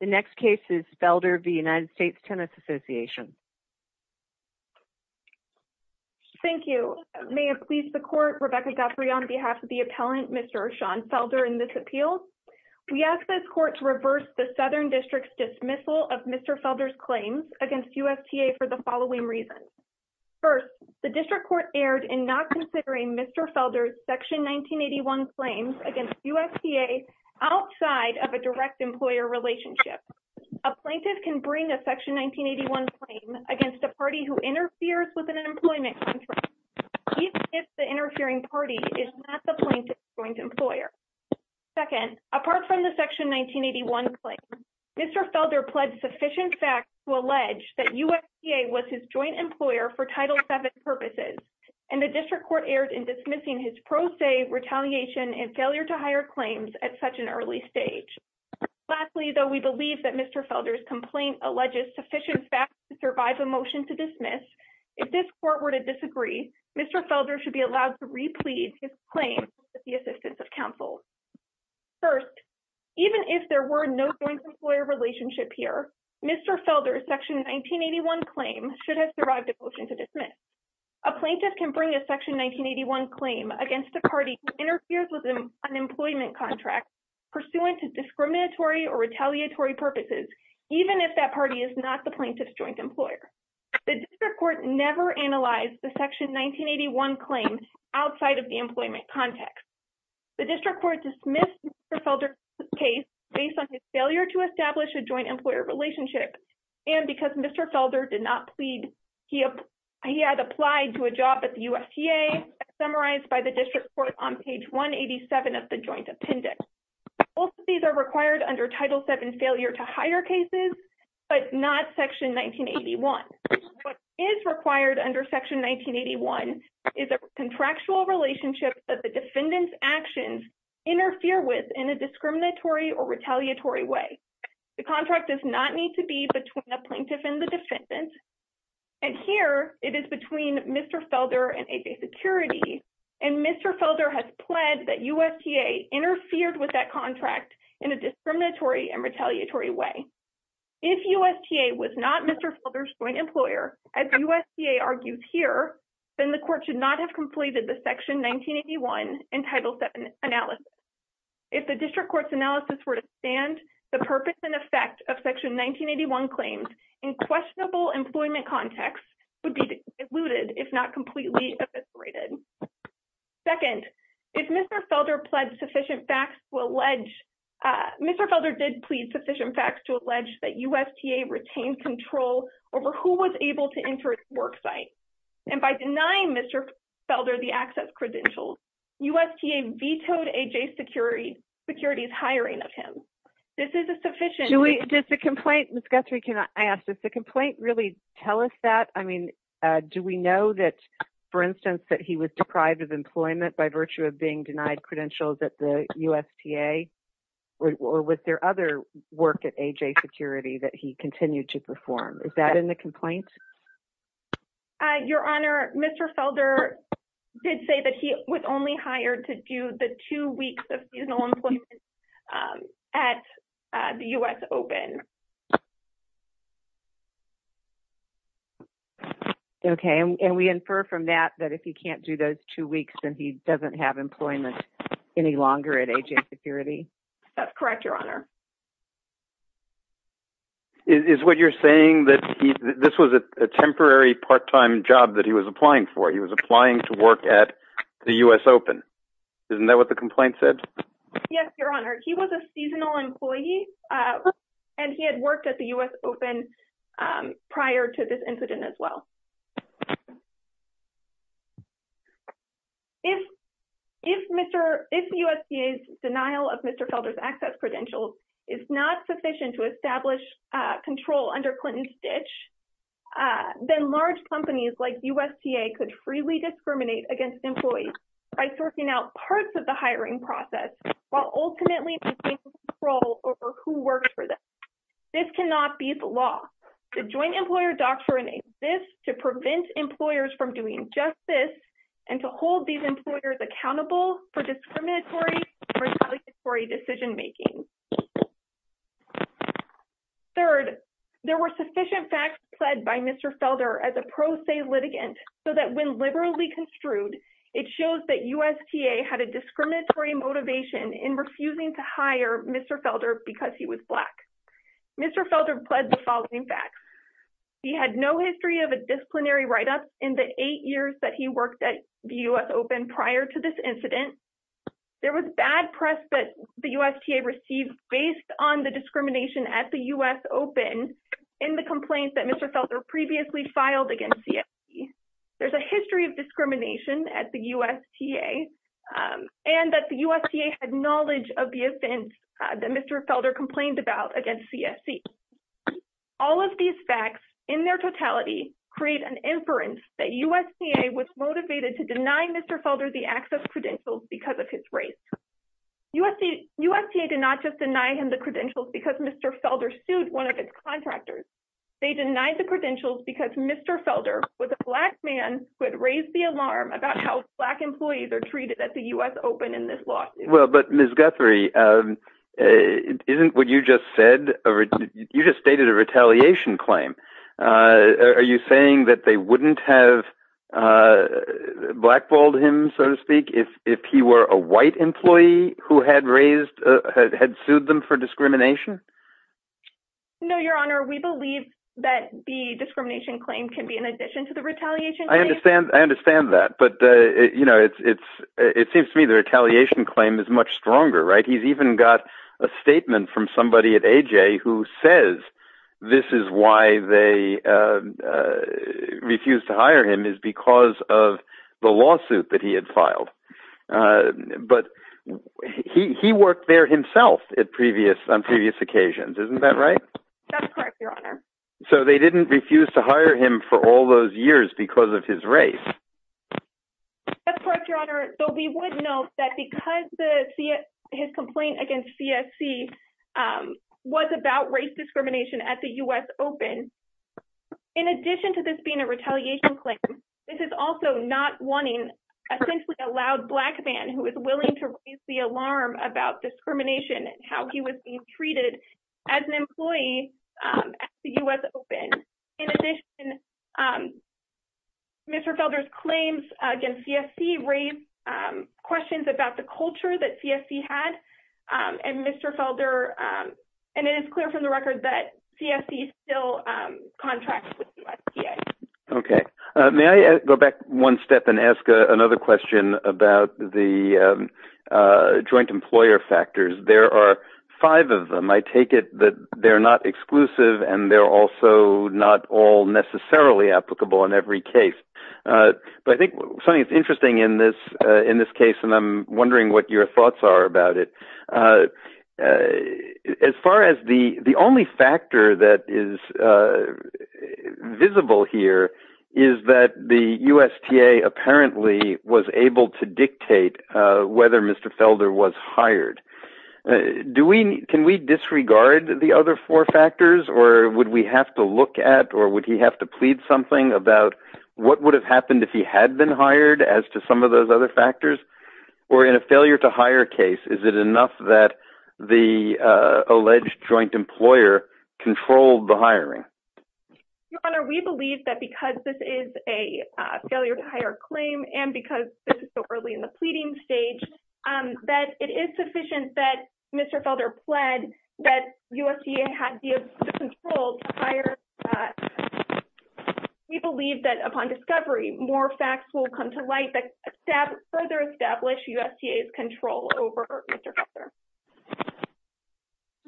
The next case is Felder v. United States Tennis Association. Thank you. May it please the court, Rebecca Guthrie on behalf of the appellant Mr. Sean Felder in this appeal. We ask this court to reverse the Southern District's dismissal of Mr. Felder's claims against USTA for the following reasons. First, the district court erred in not A plaintiff can bring a Section 1981 claim against a party who interferes with an employment contract even if the interfering party is not the plaintiff's joint employer. Second, apart from the Section 1981 claim, Mr. Felder pled sufficient facts to allege that USDA was his joint employer for Title VII purposes, and the district court erred in dismissing his pro se retaliation and failure to hire claims at such an early stage. Lastly, we believe that Mr. Felder's complaint alleges sufficient facts to survive a motion to dismiss. If this court were to disagree, Mr. Felder should be allowed to replete his claim with the assistance of counsel. First, even if there were no joint employer relationship here, Mr. Felder's Section 1981 claim should have survived a motion to dismiss. A plaintiff can bring a Section 1981 claim against a party who interferes with an unemployment contract pursuant to discriminatory or retaliatory purposes, even if that party is not the plaintiff's joint employer. The district court never analyzed the Section 1981 claim outside of the employment context. The district court dismissed Mr. Felder's case based on his failure to establish a joint employer relationship and because Mr. Felder did not plead, he had applied to a job at the USDA, as summarized by the district court on page 187 of the joint appendix. Both of these are required under Title VII failure to hire cases, but not Section 1981. What is required under Section 1981 is a contractual relationship that the defendant's actions interfere with in a discriminatory or retaliatory way. The contract does not need to be between the plaintiff and the defendant, and here it is between Mr. Felder and ADA Security, and Mr. Felder has pled that USDA interfered with that contract in a discriminatory and retaliatory way. If USDA was not Mr. Felder's joint employer, as USDA argues here, then the court should not have completed the Section 1981 and Title VII analysis. If the district court's analysis were to stand, the purpose and effect of Section 1981 claims in questionable employment context would be diluted, if not completely eviscerated. Second, if Mr. Felder pled sufficient facts to allege, Mr. Felder did plead sufficient facts to allege that USDA retained control over who was able to enter his work site, and by denying Mr. Felder the access credentials, USDA vetoed ADA Security's hiring of him. This is a sufficient... Julie, does the complaint, Ms. Guthrie, can I ask, does the complaint really tell us that? I mean, do we know that, for instance, that he was deprived of employment by virtue of being denied credentials at the USDA, or was there other work at ADA Security that he continued to perform? Is that in the complaint? Your Honor, Mr. Felder did say that he was only hired to do the two weeks of seasonal employment at the U.S. Open. Okay, and we infer from that that if he can't do those two weeks, then he doesn't have employment any longer at ADA Security? That's correct, Your Honor. Is what you're saying that this was a temporary part-time job that he was applying for? He was open? Isn't that what the complaint said? Yes, Your Honor. He was a seasonal employee, and he had worked at the U.S. Open prior to this incident as well. If USDA's denial of Mr. Felder's access credentials is not sufficient to establish control under Clinton's ditch, then large companies like USDA could freely discriminate against employees by sorting out parts of the hiring process while ultimately maintaining control over who works for them. This cannot be the law. The Joint Employer Doctrine exists to prevent employers from doing justice and to hold these employers accountable for discriminatory and retaliatory decision-making. Third, there were sufficient facts said by Mr. Felder as a pro se litigant so that when construed, it shows that USDA had a discriminatory motivation in refusing to hire Mr. Felder because he was black. Mr. Felder pled the following facts. He had no history of a disciplinary write-up in the eight years that he worked at the U.S. Open prior to this incident. There was bad press that the USDA received based on the discrimination at the U.S. Open in the complaints that Mr. Felder previously filed against CSC. There's a history of discrimination at the USDA and that the USDA had knowledge of the offense that Mr. Felder complained about against CSC. All of these facts in their totality create an inference that USDA was motivated to deny Mr. Felder the access credentials because of his race. USDA did not just deny him the credentials because Mr. Felder sued one of its contractors. They denied the credentials because Mr. Felder was a black man who had raised the alarm about how black employees are treated at the U.S. Open in this lawsuit. Well, but Ms. Guthrie, isn't what you just stated a retaliation claim? Are you saying that they wouldn't have blackballed him, so to speak, if he were a white employee who had sued them for discrimination? No, Your Honor. We believe that the discrimination claim can be in addition to the retaliation. I understand. I understand that. But, you know, it seems to me the retaliation claim is much stronger, right? He's even got a statement from somebody at AJ who says this is why they refused to hire him is because of the lawsuit that he had filed. But he worked there himself on previous occasions. Isn't that right? That's correct, Your Honor. So they didn't refuse to hire him for all those years because of his race. That's correct, Your Honor. So we would note that because his complaint against CSC was about race discrimination at the U.S. Open, in addition to this being a retaliation claim, this is also not wanting essentially a loud black man who is willing to raise the alarm about discrimination and how he was being treated as an employee at the U.S. Open. In addition, Mr. Felder's claims against CSC raise questions about the culture that CSC had. And it is clear from the record that CSC still contracts with USDA. Okay. May I go back one step and ask another question about the joint employer factors? There are five of them. I take it that they're not exclusive and they're also not all necessarily applicable in every case. But I think, Sonny, it's interesting in this case, and I'm wondering what your thoughts are about it. As far as the only factor that is visible here is that the USDA apparently was able to dictate whether Mr. Felder was hired. Can we disregard the other four factors or would we have to look at or would he have to plead something about what would have if he had been hired as to some of those other factors? Or in a failure to hire case, is it enough that the alleged joint employer controlled the hiring? Your Honor, we believe that because this is a failure to hire claim and because this is so early in the pleading stage, that it is sufficient that Mr. Felder pled that USDA had the control to more facts will come to light that further establish USDA's control over Mr. Felder.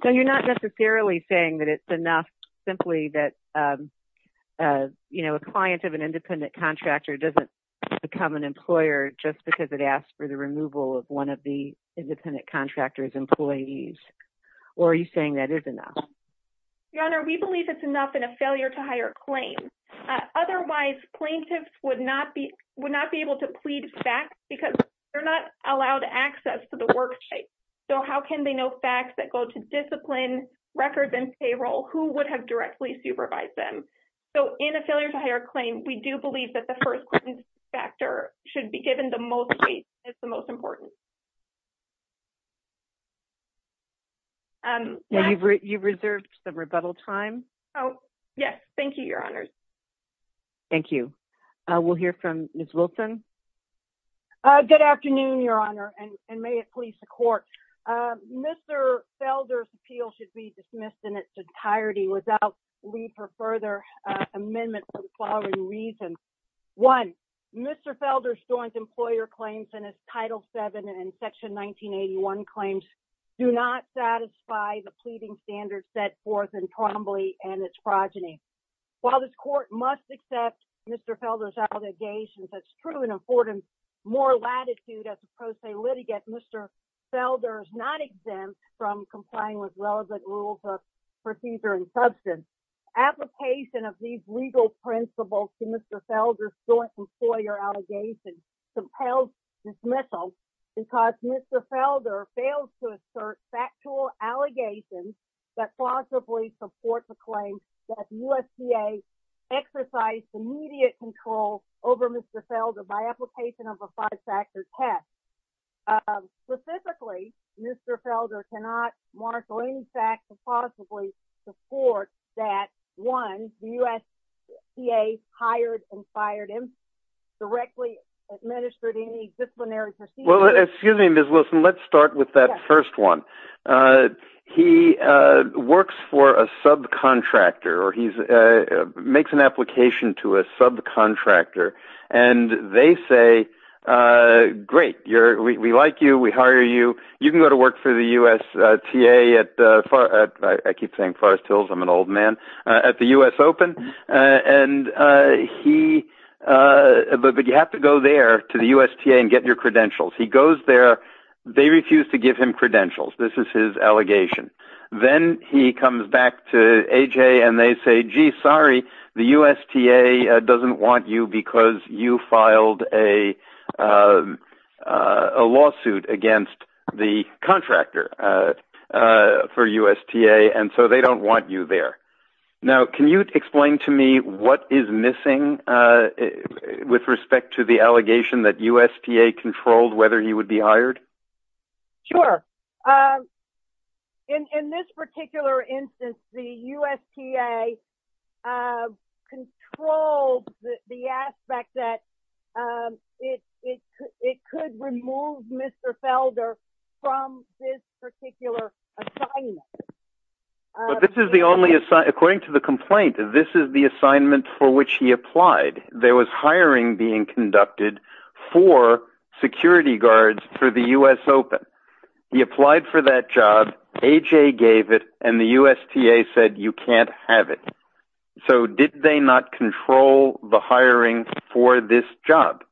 So you're not necessarily saying that it's enough simply that a client of an independent contractor doesn't become an employer just because it asks for the removal of one of the independent contractor's employees? Or are you saying that is enough? Your Honor, we believe it's enough in a failure to hire claim. Otherwise, plaintiffs would not be able to plead facts because they're not allowed access to the worksite. So how can they know facts that go to discipline, records, and payroll? Who would have directly supervised them? So in a failure to hire claim, we do believe that the first factor should be given the most weight. It's the most important. Thank you. You've reserved some rebuttal time. Yes. Thank you, Your Honor. Thank you. We'll hear from Ms. Wilson. Good afternoon, Your Honor, and may it please the court. Mr. Felder's appeal should be dismissed in its entirety without leave for further amendment for the following reasons. One, Mr. Felder's employer claims in his Title VII and Section 1981 claims do not satisfy the pleading standards set forth in Trombley and its progeny. While this court must accept Mr. Felder's allegations, it's true and afford him more latitude as a pro se litigant, Mr. Felder is not exempt from complying with relevant rules of procedure and substance. Application of these legal principles to Mr. Felder's joint employer allegations compels dismissal because Mr. Felder fails to assert factual allegations that plausibly support the claim that the USDA exercised immediate control over Mr. Felder by application of a five-factor test. Specifically, Mr. Felder cannot marshal any facts that possibly support that, one, the USDA hired and fired him, directly administered any disciplinary procedure. Well, excuse me, Ms. Wilson, let's start with that first one. He works for a subcontractor, or he makes an application to a subcontractor, and they say, great, we like you, we hire you, you can go to work for the USTA at, I keep saying Forrest Hills, I'm an old man, at the US Open, but you have to go there to the USTA and get your credentials. He goes there, they refuse to give him credentials, this is his you filed a lawsuit against the contractor for USTA, and so they don't want you there. Now, can you explain to me what is missing with respect to the allegation that USTA controlled whether he would be hired? Sure. In this particular instance, the USTA controlled the aspect that it could remove Mr. Felder from this particular assignment. This is the only, according to the complaint, this is the assignment for which he applied. There was hiring being conducted for security guards for the US Open. He applied for that job, AJ gave it, and the USTA said you can't have it. So did they not control the hiring for this job?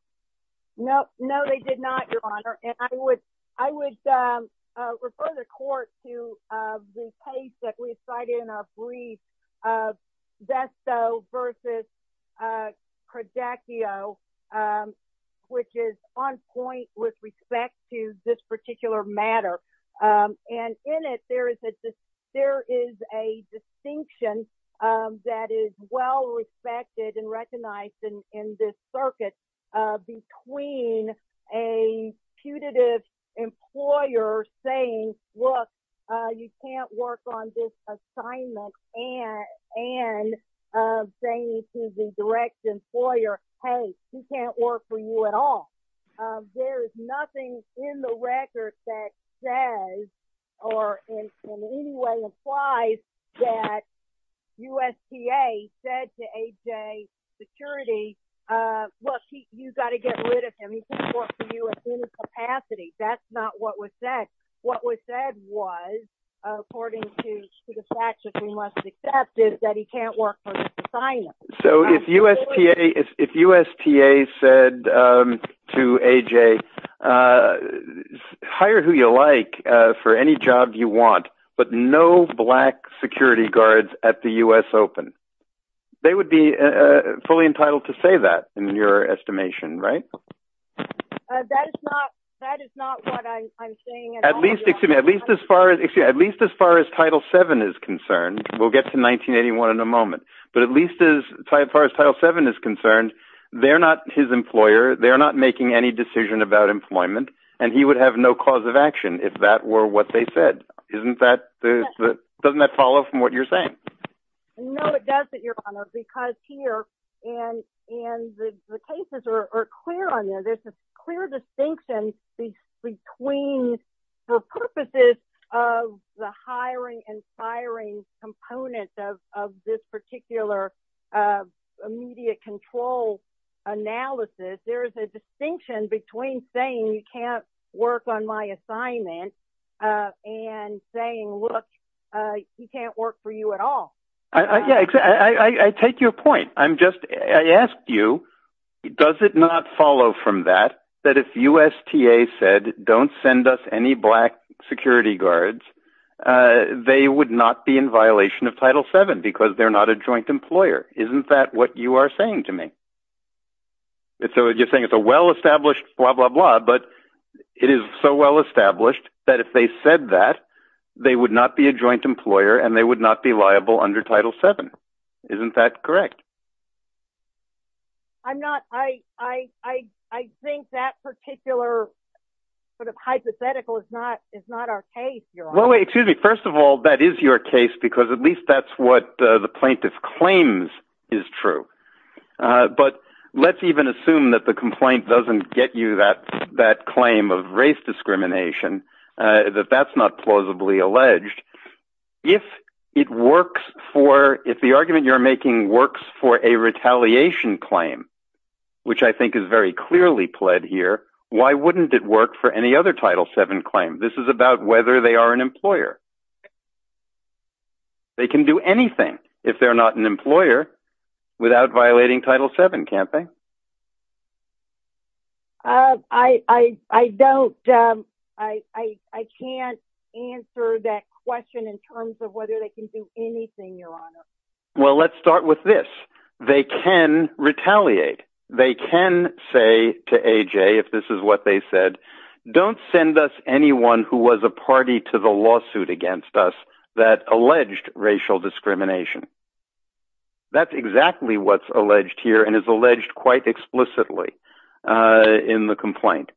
No, no, they did not, Your Honor. And I would refer the court to the case that we cited in a projectio, which is on point with respect to this particular matter. And in it, there is a distinction that is well respected and recognized in this circuit between a putative employer saying, look, you can't work on this assignment, and saying to the direct employer, hey, he can't work for you at all. There is nothing in the record that says or in any way implies that USTA said to AJ, security, look, you got to get rid of him. He can't work for you at any capacity. That's not what was said. What was said was, according to the facts that we must accept, is that he can't work for this assignment. So if USTA said to AJ, hire who you like for any job you want, but no black security guards at the US Open, they would be fully entitled to say that in your estimation, right? That is not what I'm saying. At least as far as Title VII is concerned, we'll get to 1981 in a moment, but at least as far as Title VII is concerned, they're not his employer, they're not making any decision about employment, and he would have no cause of action if that were what they said. Doesn't that follow from what you're saying? No, it doesn't, Your Honor, because here, and the cases are clear on there, there's a clear distinction between, for purposes of the hiring and firing component of this particular immediate control analysis, there's a distinction between saying you can't work on my I take your point. I asked you, does it not follow from that, that if USTA said, don't send us any black security guards, they would not be in violation of Title VII because they're not a joint employer? Isn't that what you are saying to me? So you're saying it's a well-established blah, blah, blah, but it is so well-established that if they said that, they would not be a joint employer, and they would not be liable under Title VII. Isn't that correct? I'm not, I think that particular sort of hypothetical is not our case, Your Honor. Well, wait, excuse me. First of all, that is your case, because at least that's what the plaintiff claims is true. But let's even assume that the complaint doesn't get you that claim of race discrimination, that that's not plausibly alleged. If it works for, if the argument you're making works for a retaliation claim, which I think is very clearly pled here, why wouldn't it work for any other Title VII claim? This is about whether they are an employer. They can do anything if they're not an employer without violating Title VII campaign. I don't, I can't answer that question in terms of whether they can do anything, Your Honor. Well, let's start with this. They can retaliate. They can say to AJ, if this is what they said, don't send us anyone who was a party to the lawsuit against us that alleged racial discrimination. That's exactly what's alleged here and is alleged quite explicitly in the complaint.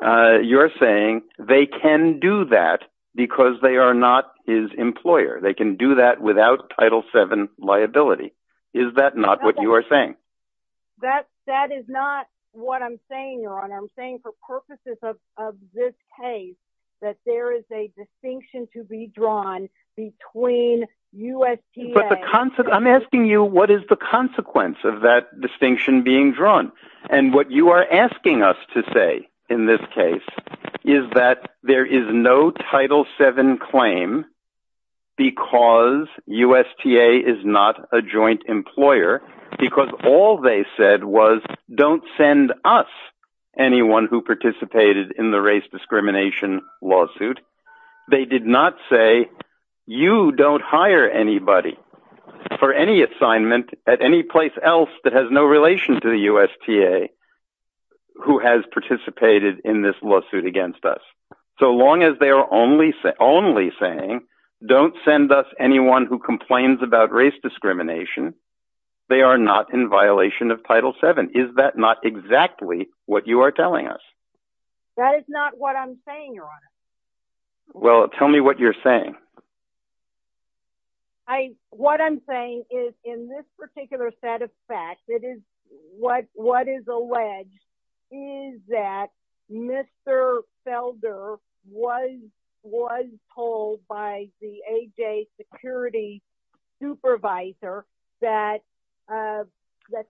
You're saying they can do that because they are not his employer. They can do that without Title VII liability. Is that not what you are saying? That is not what I'm saying, Your Honor. I'm saying for purposes of, of this case, that there is a distinction to be drawn between USTA. But the, I'm asking you, what is the consequence of that distinction being drawn? And what you are asking us to say in this case is that there is no Title VII claim because USTA is not a joint participated in the race discrimination lawsuit. They did not say you don't hire anybody for any assignment at any place else that has no relation to the USTA who has participated in this lawsuit against us. So long as they are only, only saying don't send us anyone who complains about race discrimination, they are not in violation of Title VII. Is that not exactly what you are telling us? That is not what I'm saying, Your Honor. Well, tell me what you're saying. I, what I'm saying is in this particular set of facts, it is what, what is alleged is that Mr. Felder was, was told by the AJ security supervisor that, that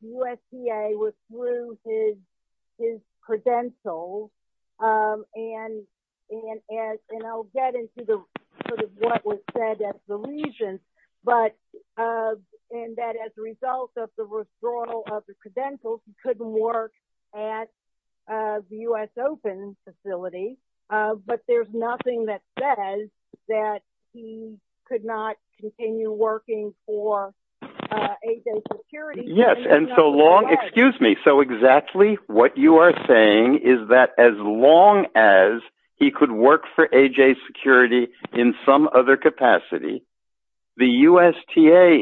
USTA was through his, his credentials. And, and, and I'll get into the sort of what was said at the legion, but, and that as a result of the withdrawal of the credentials, he couldn't work at the U.S. Open facility. But there's nothing that says that he could not continue working for AJ security. Yes. And so long, excuse me. So exactly what you are saying is that as long as he could work for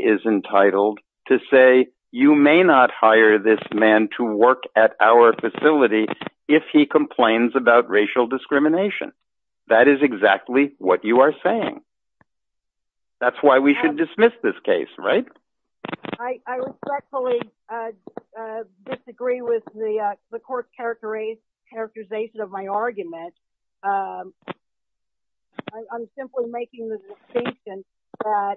is entitled to say, you may not hire this man to work at our facility. If he complains about racial discrimination, that is exactly what you are saying. That's why we should dismiss this case, right? I respectfully disagree with the court characterization of my argument. I'm simply making the distinction that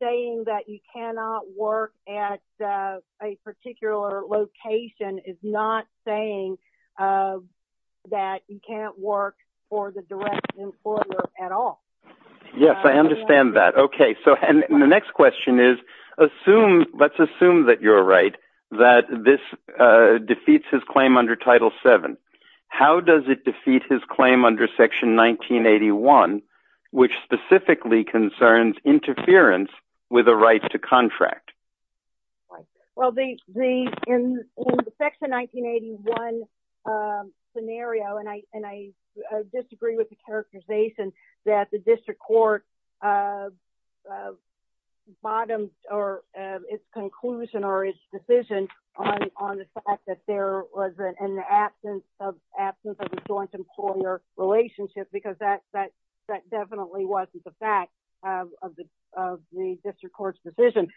saying that you cannot work at a particular location is not saying that you can't work for the direct employer at all. Yes, I understand that. Okay. So, and the next question is, assume, let's assume that you're claim under section 1981, which specifically concerns interference with a right to contract. Well, the, the, in the section 1981 scenario, and I, and I disagree with the characterization that the district court bottoms or its conclusion or its decision on, on the fact that there was an absence of absence of a joint employer relationship, because that, that, that definitely wasn't the fact of the, of the district court's decision.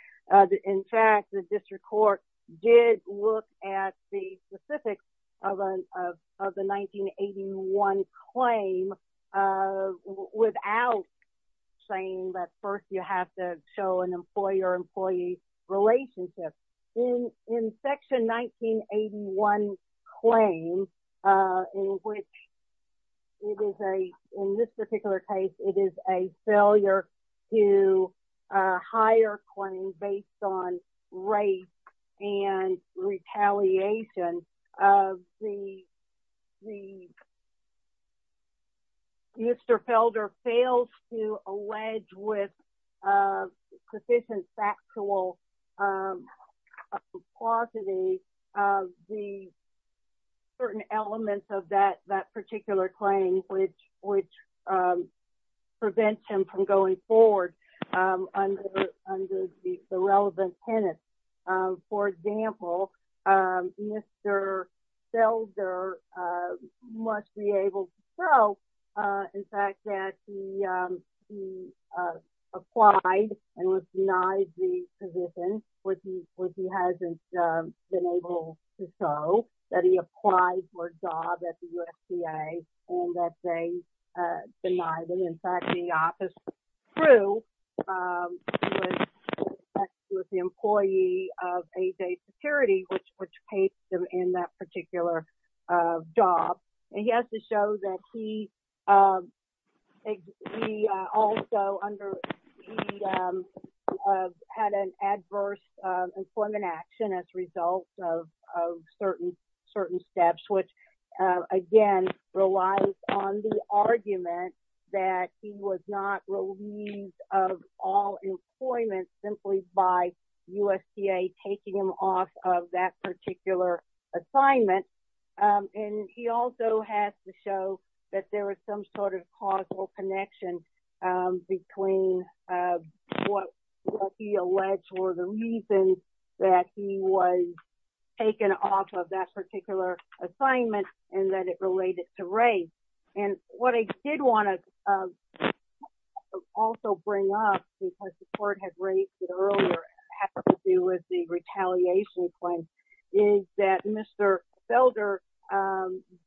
In fact, the district court did look at the specifics of, of, of the 1981 claim without saying that first you have to show an employer employee relationship in, in section 1981 claim in which it is a, in this particular case, it is a failure to hire claims based on race and retaliation of the, the, Mr. Felder failed to show the actual quantity of the certain elements of that, that particular claim, which, which prevents him from going forward under, under the relevant tenets. For example, Mr. Felder must be able to show, in fact, that he, he applied and was denied the position, which he, which he hasn't been able to show, that he applied for a job at the USDA and that they denied it. In fact, the office crew was the employee of A.J. Security, which, which paid him in that particular job. And he has to show that he, he also under, he had an adverse employment action as a result of, of certain, certain steps, which again, relies on the argument that he was not relieved of all employment simply by USDA taking him off of that particular assignment. And he also has to show that there was some sort of causal connection between what he alleged were the reasons that he was taken off of that particular assignment and that it related to race. And what I did want to also bring up, because the court had raised it earlier, had to do with the retaliation claim, is that Mr. Felder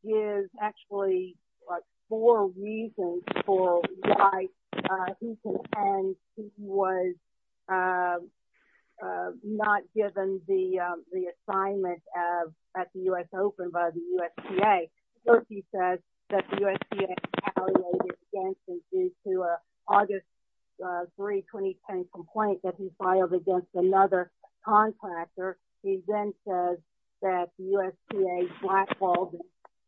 gives actually like four reasons for why he was not given the, the assignment of, at the U.S. Open by the USDA. First, he says that the USDA retaliated against him due to an August 3, 2010 complaint that he filed against another contractor. He then says that USDA blackballed him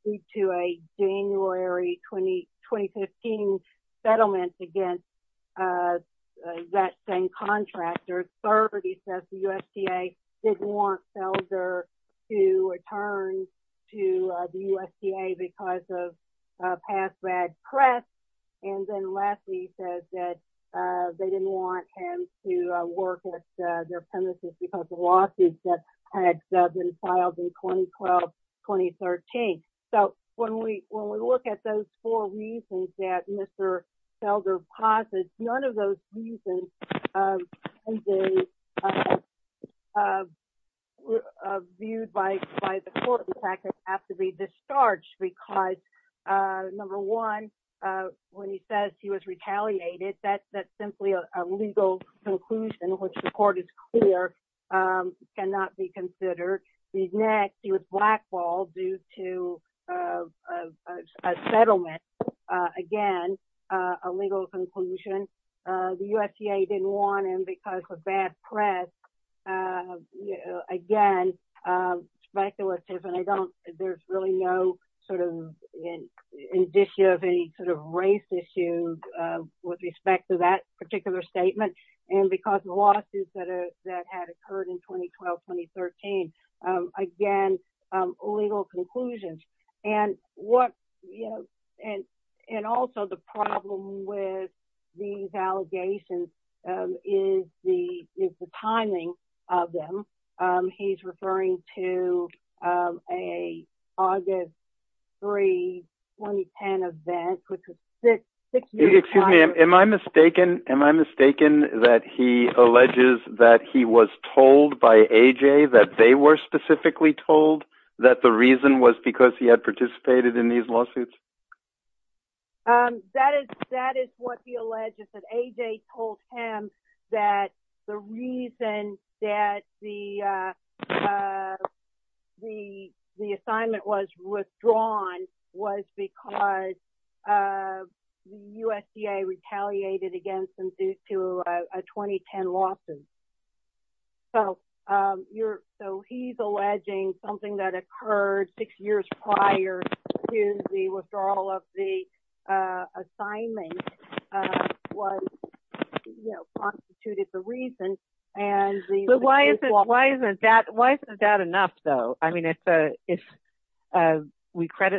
due to a January 20, 2015 settlement against that same contractor. Third, he says the USDA didn't want Felder to return to the USDA because of a past bad press. And then lastly, he says that they didn't want him to work with their losses that had been filed in 2012, 2013. So when we look at those four reasons that Mr. Felder posits, none of those reasons can be viewed by the court. In fact, they have to be discharged because, number one, when he says he was retaliated, that's simply a legal conclusion which the court is clear cannot be considered. The next, he was blackballed due to a settlement. Again, a legal conclusion. The USDA didn't want him because of bad press. Again, speculative, and I don't, there's really no sort of indicia of any sort of race issue with respect to that that had occurred in 2012, 2013. Again, legal conclusions. And what, you know, and also the problem with these allegations is the timing of them. He's referring to a August 3, 2010 event. Excuse me, am I mistaken, am I mistaken that he alleges that he was told by AJ that they were specifically told that the reason was because he had participated in these lawsuits? That is what he alleges, that AJ told him that the reason that the assignment was withdrawn was because the USDA retaliated against him due to a 2010 lawsuit. So, he's alleging something that occurred six years prior to the withdrawal of the assignment was, you know, constituted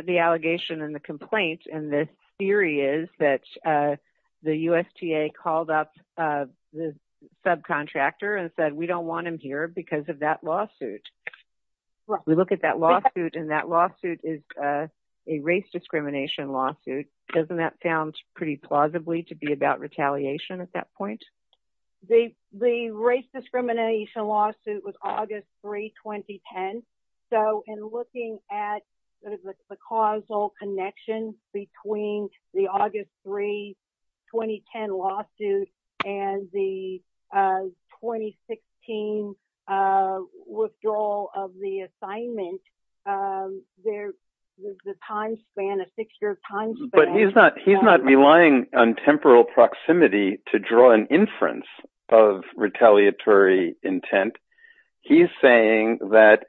the allegation and the complaint. And the theory is that the USDA called up the subcontractor and said, we don't want him here because of that lawsuit. We look at that lawsuit and that lawsuit is a race discrimination lawsuit. Doesn't that sound pretty plausibly to be about retaliation at that point? The race discrimination lawsuit was August 3, 2010. So, in looking at sort of the causal connection between the August 3, 2010 lawsuit and the 2016 withdrawal of the assignment, there was a time span, a six-year time span. But he's not relying on temporal proximity to draw an inference of retaliatory intent. He's saying that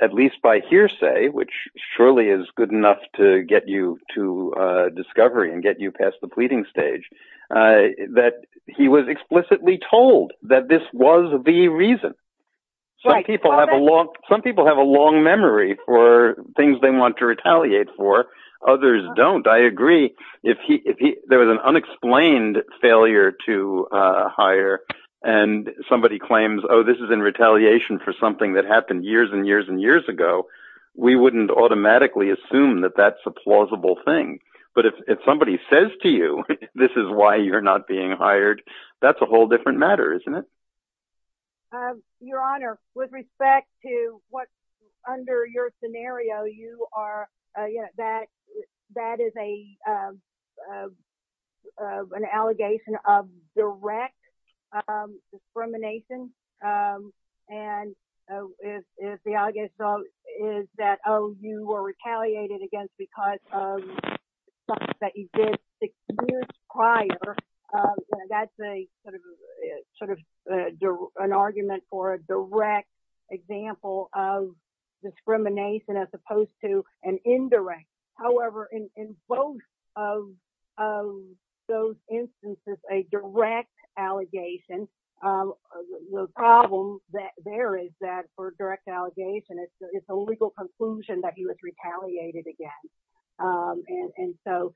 at least by hearsay, which surely is good enough to get you to discovery and get you past the pleading stage, that he was explicitly told that this was the reason. Some people have a long memory for things they want to retaliate for. Others don't. I agree. If there was an unexplained failure to hire and somebody claims, oh, this is in retaliation for something that happened years and years ago, we wouldn't automatically assume that that's a plausible thing. But if somebody says to you, this is why you're not being hired, that's a whole different matter, isn't it? Your Honor, with respect to what's under your scenario, that is an allegation of direct discrimination. And if the allegation is that, oh, you were retaliated against because of something that you did six years prior, that's sort of an argument for a direct example of discrimination as opposed to an indirect. However, in both of those instances, a direct allegation, the problem there is that for direct allegation, it's a legal conclusion that he was retaliated against. And so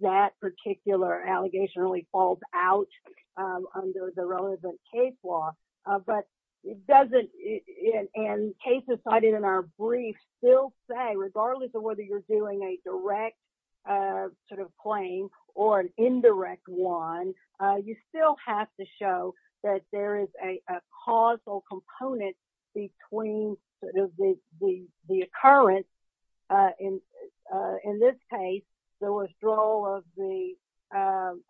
that particular allegation really falls out under the relevant case law. But it doesn't, and cases cited in our brief still say, regardless of whether you're doing a direct sort of claim or an indirect one, you still have to show that there is a causal component between sort of the occurrence in this case, the withdrawal of the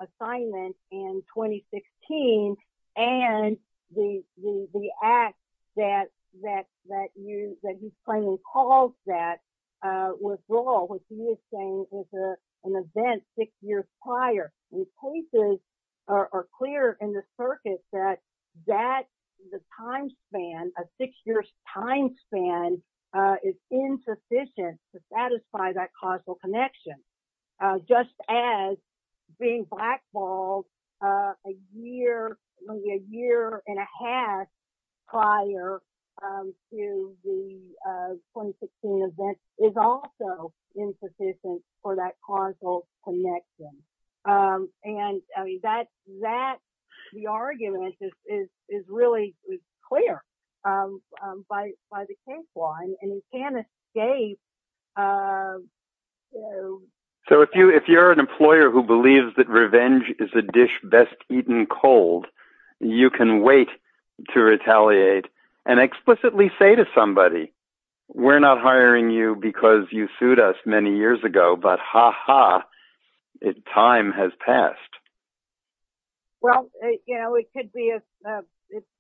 assignment in 2016, and the act that he's claiming caused that withdrawal, which he is saying is an event six years prior. And cases are clear in the circuit that that, the time span, a six-year time span is insufficient to satisfy that causal connection, just as being blackballed a year, maybe a year and a half prior to the 2016 event is also insufficient for that causal connection. And that, the argument is really clear by the case law, and he can't escape. So if you're an employer who believes that revenge is a dish best eaten cold, you can wait to retaliate and explicitly say to somebody, we're not hiring you because you sued us many years ago, but ha ha, time has passed. Well, you know, it could be,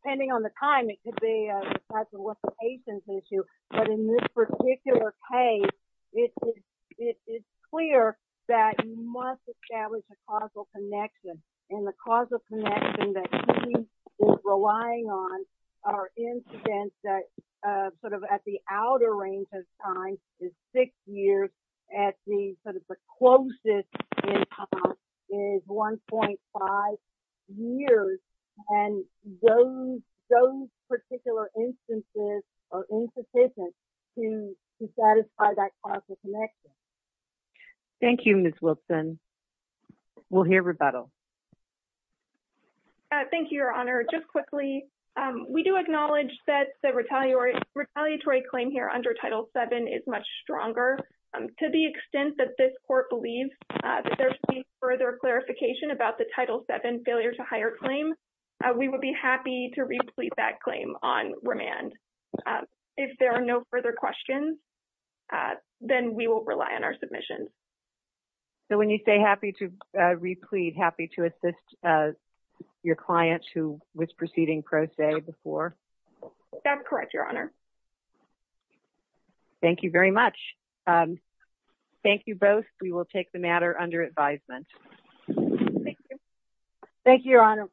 depending on the time, it could be a patient's issue. But in this particular case, it is clear that you must establish a causal connection. And the causal connection that he is relying on are incidents that sort of at the outer range of time is six years at the sort of the closest is 1.5 years. And those particular instances are insufficient to satisfy that causal connection. Thank you, Ms. Wilson. We'll hear rebuttal. Thank you, Your Honor. Just quickly, we do acknowledge that the retaliatory claim here under Title VII is much stronger. To the extent that this court believes that there should be further clarification about the Title VII failure to hire claim, we would be happy to replete that claim on remand. If there are no further questions, then we will rely on our submission. So when you say happy to replete, happy to assist your client who was proceeding pro se before? I'm correct, Your Honor. Thank you very much. Thank you both. We will take the matter under advisement. Thank you. Thank you, Your Honor.